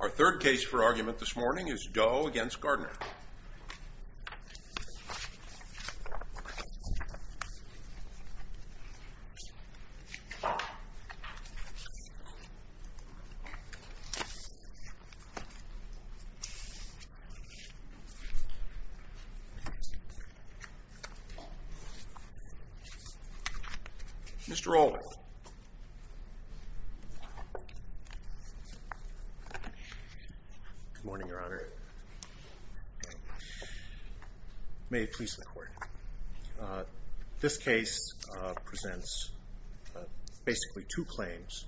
Our third case for argument this morning is Doe v. Gardner. Mr. Olden. Good morning, Your Honor. May it please the Court. This case presents basically two claims.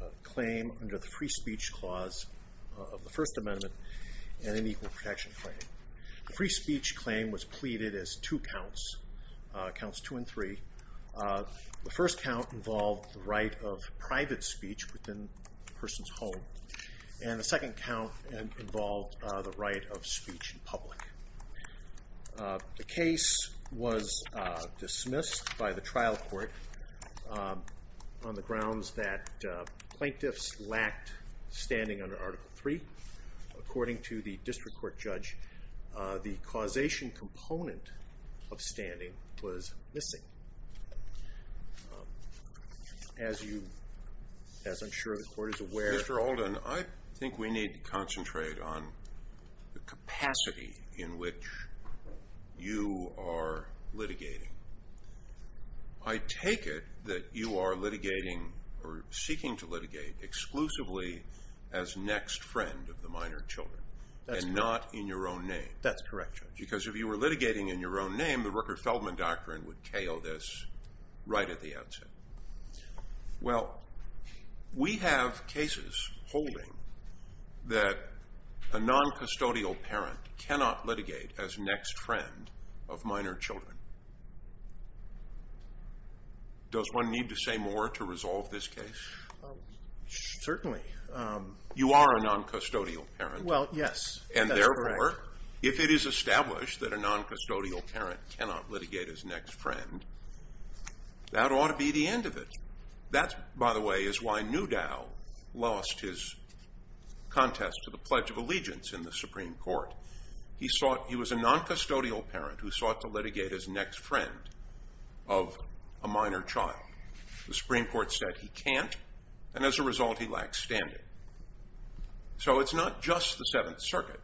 A claim under the Free Speech Clause of the First Amendment and an Equal Protection Claim. The Free Speech Claim was pleaded as two counts, counts two and three. The first count involved the right of private speech within the person's home. And the second count involved the right of speech in public. The case was dismissed by the trial court on the grounds that plaintiffs lacked standing under Article III. According to the district court judge, the causation component of standing was missing. As I'm sure the Court is aware... Mr. Olden, I think we need to concentrate on the capacity in which you are litigating. I take it that you are litigating or seeking to litigate exclusively as next friend of the minor children and not in your own name. That's correct, Judge. Because if you were litigating in your own name, the Rooker-Feldman Doctrine would KO this right at the outset. Well, we have cases holding that a non-custodial parent cannot litigate as next friend of minor children. Does one need to say more to resolve this case? Certainly. You are a non-custodial parent. Well, yes. That's correct. And therefore, if it is established that a non-custodial parent cannot litigate as next friend, that ought to be the end of it. That, by the way, is why Newdow lost his contest to the Pledge of Allegiance in the Supreme Court. He was a non-custodial parent who sought to litigate as next friend of a minor child. The Supreme Court said he can't, and as a result, he lacked standing. So it's not just the Seventh Circuit.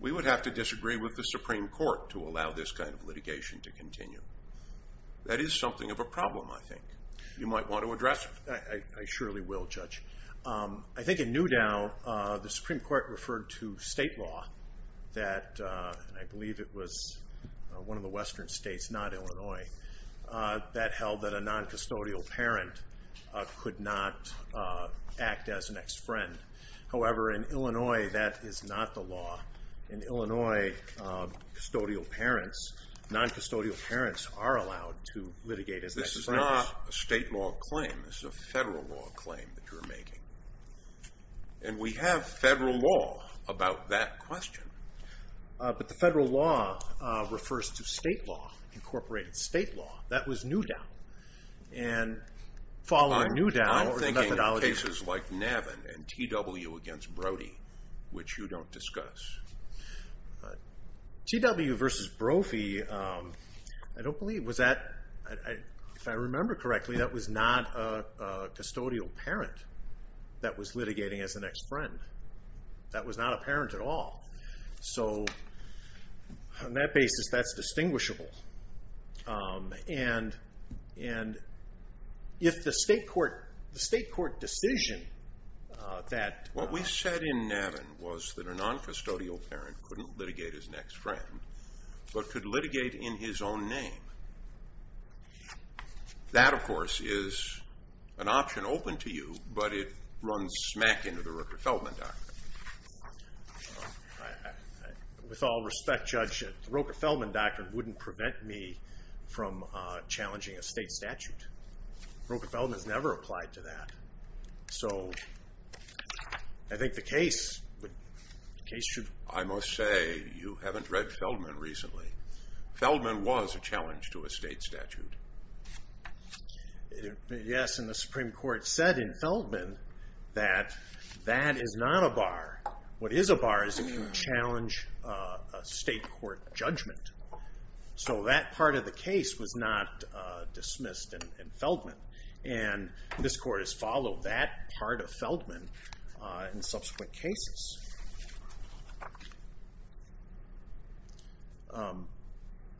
We would have to disagree with the Supreme Court to allow this kind of litigation to continue. That is something of a problem, I think. You might want to address it. I surely will, Judge. I think in Newdow, the Supreme Court referred to state law that, and I believe it was one of the western states, not Illinois, that held that a non-custodial parent could not act as a next friend. However, in Illinois, that is not the law. In Illinois, non-custodial parents are allowed to litigate as next friends. This is not a state law claim. This is a federal law claim that you're making. And we have federal law about that question. But the federal law refers to state law, incorporated state law. That was Newdow. And following Newdow... I'm thinking of cases like Navin and T.W. against Brody, which you don't discuss. T.W. versus Brophy, I don't believe, was that, if I remember correctly, that was not a custodial parent that was litigating as a next friend. That was not a parent at all. So, on that basis, that's distinguishable. And if the state court decision that... What we said in Navin was that a non-custodial parent couldn't litigate as next friend, but could litigate in his own name. That, of course, is an option open to you, but it runs smack into the Roker-Feldman doctrine. With all respect, Judge, the Roker-Feldman doctrine wouldn't prevent me from challenging a state statute. Roker-Feldman has never applied to that. So, I think the case should... I must say, you haven't read Feldman recently. Feldman was a challenge to a state statute. Yes, and the Supreme Court said in Feldman that that is not a bar. What is a bar is it can challenge a state court judgment. So, that part of the case was not dismissed in Feldman. And this Court has followed that part of Feldman in subsequent cases.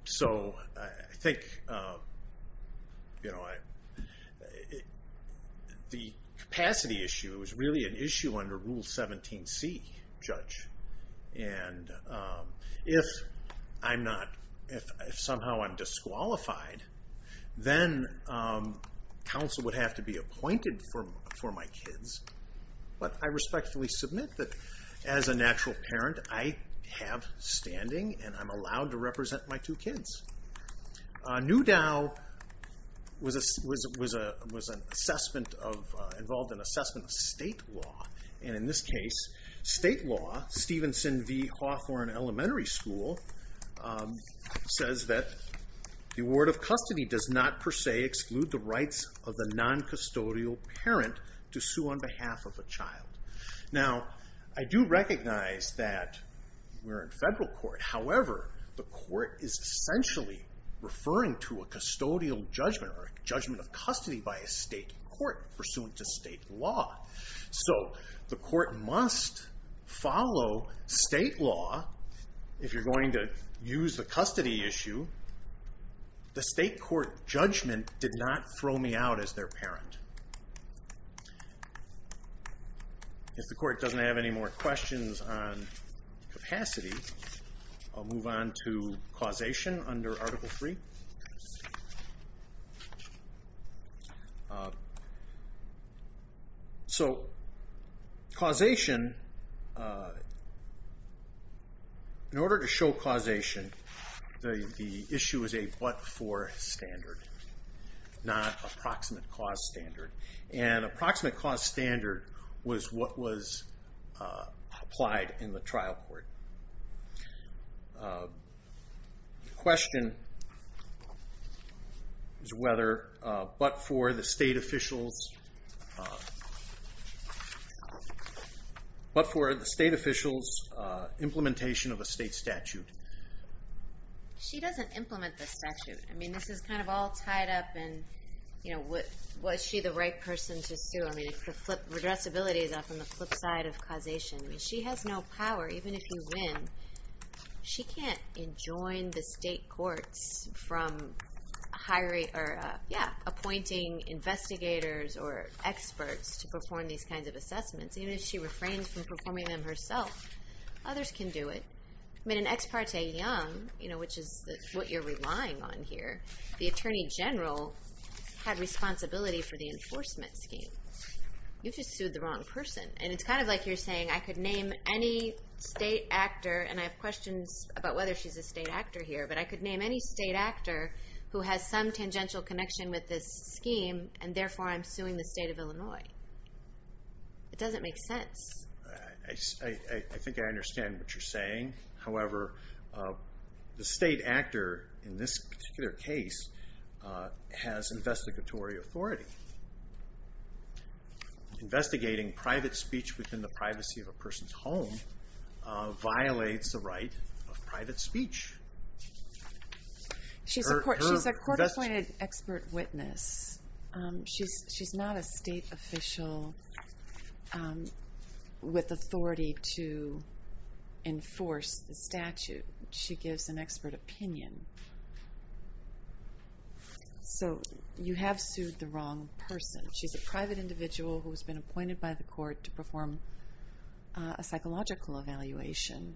So, I think the capacity issue is really an issue under Rule 17c, Judge. And if somehow I'm disqualified, then counsel would have to be appointed for my kids. But I respectfully submit that as a natural parent, I have standing and I'm allowed to represent my two kids. Newdow was involved in an assessment of state law. And in this case, state law, Stevenson v. Hawthorne Elementary School, says that the award of custody does not per se exclude the rights of the non-custodial parent to sue on behalf of a child. Now, I do recognize that we're in federal court. However, the court is essentially referring to a custodial judgment or a judgment of custody by a state court pursuant to state law. So, the court must follow state law if you're going to use the custody issue. The state court judgment did not throw me out as their parent. If the court doesn't have any more questions on capacity, I'll move on to causation under Article III. So, causation, in order to show causation, the issue is a but-for standard, not approximate cause standard. And approximate cause standard was what was applied in the trial court. The question is whether a but-for the state official's implementation of a state statute. She doesn't implement the statute. I mean, this is kind of all tied up in, you know, was she the right person to sue? I mean, the addressability is on the flip side of causation. I mean, she has no power. Even if you win, she can't enjoin the state courts from hiring or, yeah, appointing investigators or experts to perform these kinds of assessments. Even if she refrains from performing them herself, others can do it. I mean, in Ex Parte Young, you know, which is what you're relying on here, the Attorney General had responsibility for the enforcement scheme. You just sued the wrong person. And it's kind of like you're saying, I could name any state actor, and I have questions about whether she's a state actor here, but I could name any state actor who has some tangential connection with this scheme, and therefore I'm suing the state of Illinois. It doesn't make sense. I think I understand what you're saying. However, the state actor in this particular case has investigatory authority. Investigating private speech within the privacy of a person's home violates the right of private speech. She's a court-appointed expert witness. She's not a state official with authority to enforce the statute. She gives an expert opinion. So you have sued the wrong person. She's a private individual who has been appointed by the court to perform a psychological evaluation.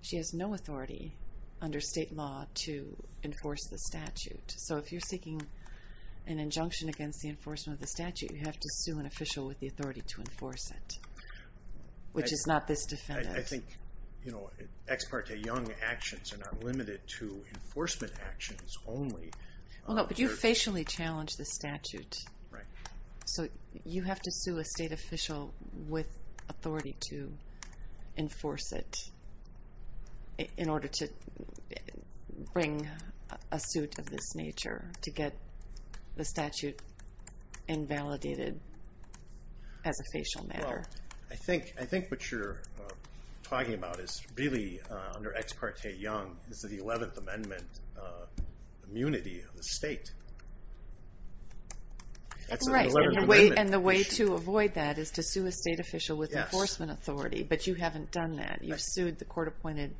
She has no authority under state law to enforce the statute. So if you're seeking an injunction against the enforcement of the statute, you have to sue an official with the authority to enforce it, which is not this defendant. I think ex parte young actions are not limited to enforcement actions only. But you facially challenged the statute. Right. So you have to sue a state official with authority to enforce it in order to bring a suit of this nature to get the statute invalidated as a facial matter. I think what you're talking about is really, under ex parte young, is the 11th Amendment immunity of the state. Right. And the way to avoid that is to sue a state official with enforcement authority. But you haven't done that. You've sued the court-appointed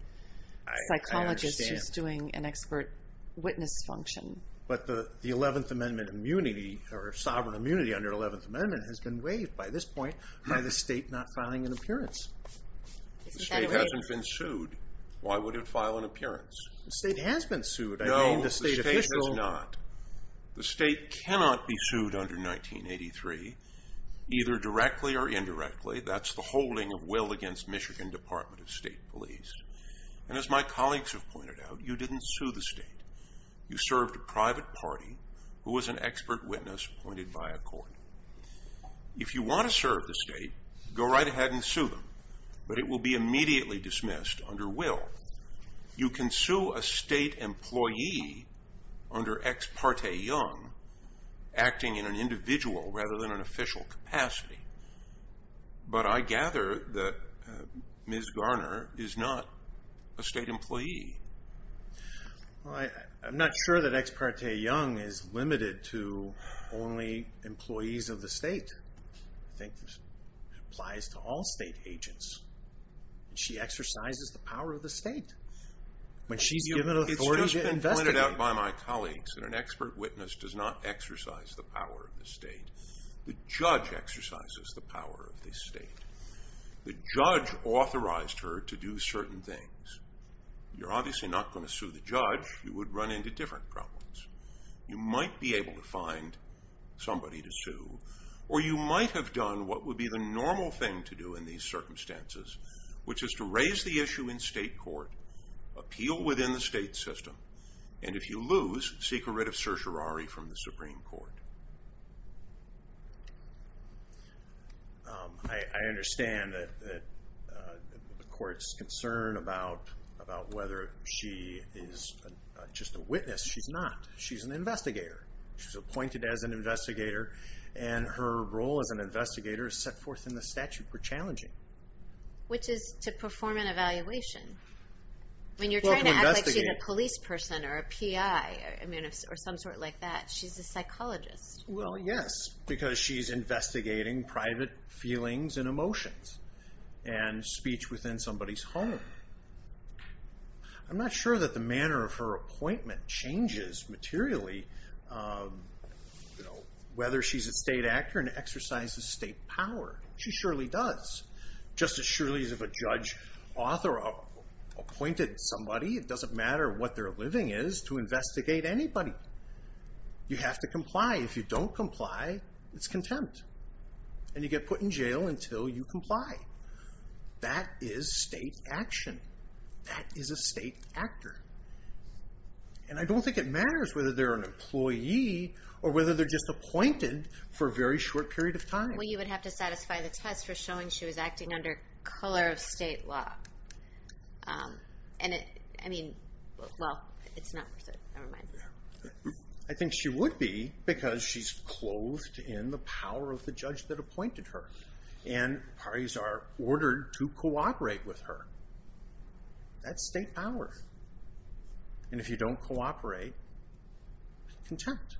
psychologist who's doing an expert witness function. But the 11th Amendment immunity or sovereign immunity under the 11th Amendment has been waived by this point by the state not filing an appearance. The state hasn't been sued. Why would it file an appearance? The state has been sued. No, the state has not. The state cannot be sued under 1983, either directly or indirectly. That's the holding of will against Michigan Department of State Police. And as my colleagues have pointed out, you didn't sue the state. You served a private party who was an expert witness appointed by a court. If you want to serve the state, go right ahead and sue them. But it will be immediately dismissed under will. You can sue a state employee under ex parte young, acting in an individual rather than an official capacity. But I gather that Ms. Garner is not a state employee. I'm not sure that ex parte young is limited to only employees of the state. I think this applies to all state agents. She exercises the power of the state. When she's given authority to investigate. It's just been pointed out by my colleagues that an expert witness does not exercise the power of the state. The judge exercises the power of the state. The judge authorized her to do certain things. You're obviously not going to sue the judge. You would run into different problems. You might be able to find somebody to sue. Or you might have done what would be the normal thing to do in these circumstances. Which is to raise the issue in state court. Appeal within the state system. And if you lose, seek a writ of certiorari from the Supreme Court. I understand that the court's concern about whether she is just a witness. She's not. She's an investigator. She's appointed as an investigator. And her role as an investigator is set forth in the statute for challenging. Which is to perform an evaluation. When you're trying to act like she's a police person or a PI or some sort like that. She's a psychologist. Well, yes. Because she's investigating private feelings and emotions. And speech within somebody's home. I'm not sure that the manner of her appointment changes materially. Whether she's a state actor and exercises state power. She surely does. Just as surely as if a judge authored or appointed somebody. It doesn't matter what their living is to investigate anybody. You have to comply. If you don't comply, it's contempt. And you get put in jail until you comply. That is state action. That is a state actor. And I don't think it matters whether they're an employee or whether they're just appointed for a very short period of time. Well, you would have to satisfy the test for showing she was acting under color of state law. I mean, well, it's not worth it. Never mind. I think she would be because she's clothed in the power of the judge that appointed her. And parties are ordered to cooperate with her. That's state power. And if you don't cooperate, contempt.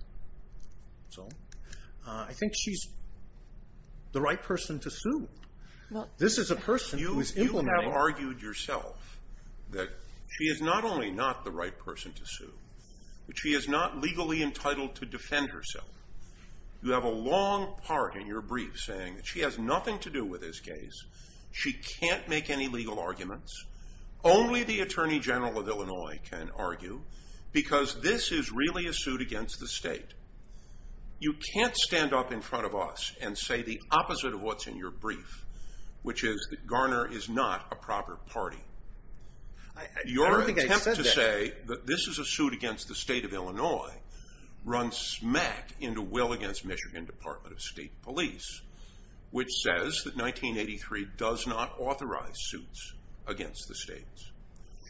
This is a person who is implementing. You have argued yourself that she is not only not the right person to sue, but she is not legally entitled to defend herself. You have a long part in your brief saying that she has nothing to do with this case. She can't make any legal arguments. Only the Attorney General of Illinois can argue because this is really a suit against the state. You can't stand up in front of us and say the opposite of what's in your brief, which is that Garner is not a proper party. I don't think I said that. Your attempt to say that this is a suit against the state of Illinois runs smack into Will against Michigan Department of State Police, which says that 1983 does not authorize suits against the states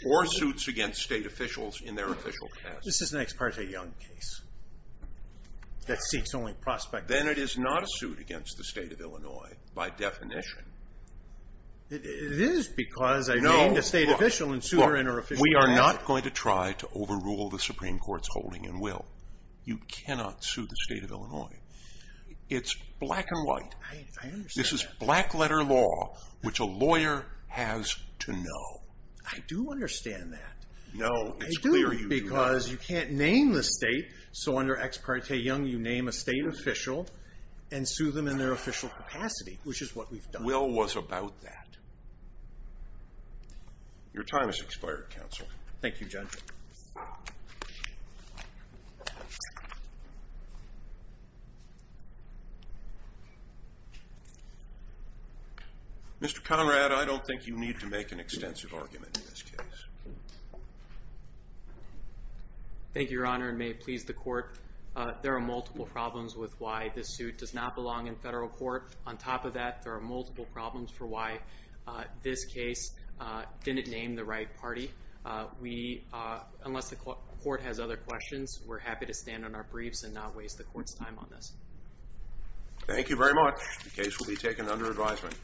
or suits against state officials in their official case. This is an ex parte Young case that seeks only prospect. Then it is not a suit against the state of Illinois by definition. It is because I named a state official and sued her in her official case. We are not going to try to overrule the Supreme Court's holding in Will. You cannot sue the state of Illinois. It's black and white. I understand that. This is black letter law, which a lawyer has to know. I do understand that. No, it's clear you do not. I do, because you can't name the state, so under ex parte Young you name a state official and sue them in their official capacity, which is what we've done. Will was about that. Your time has expired, counsel. Thank you, Judge. Mr. Conrad, I don't think you need to make an extensive argument in this case. Thank you, Your Honor, and may it please the court. There are multiple problems with why this suit does not belong in federal court. On top of that, there are multiple problems for why this case didn't name the right party. Unless the court has other questions, we're happy to stand on our briefs and not waste the court's time on this. Thank you very much. The case will be taken under advisement.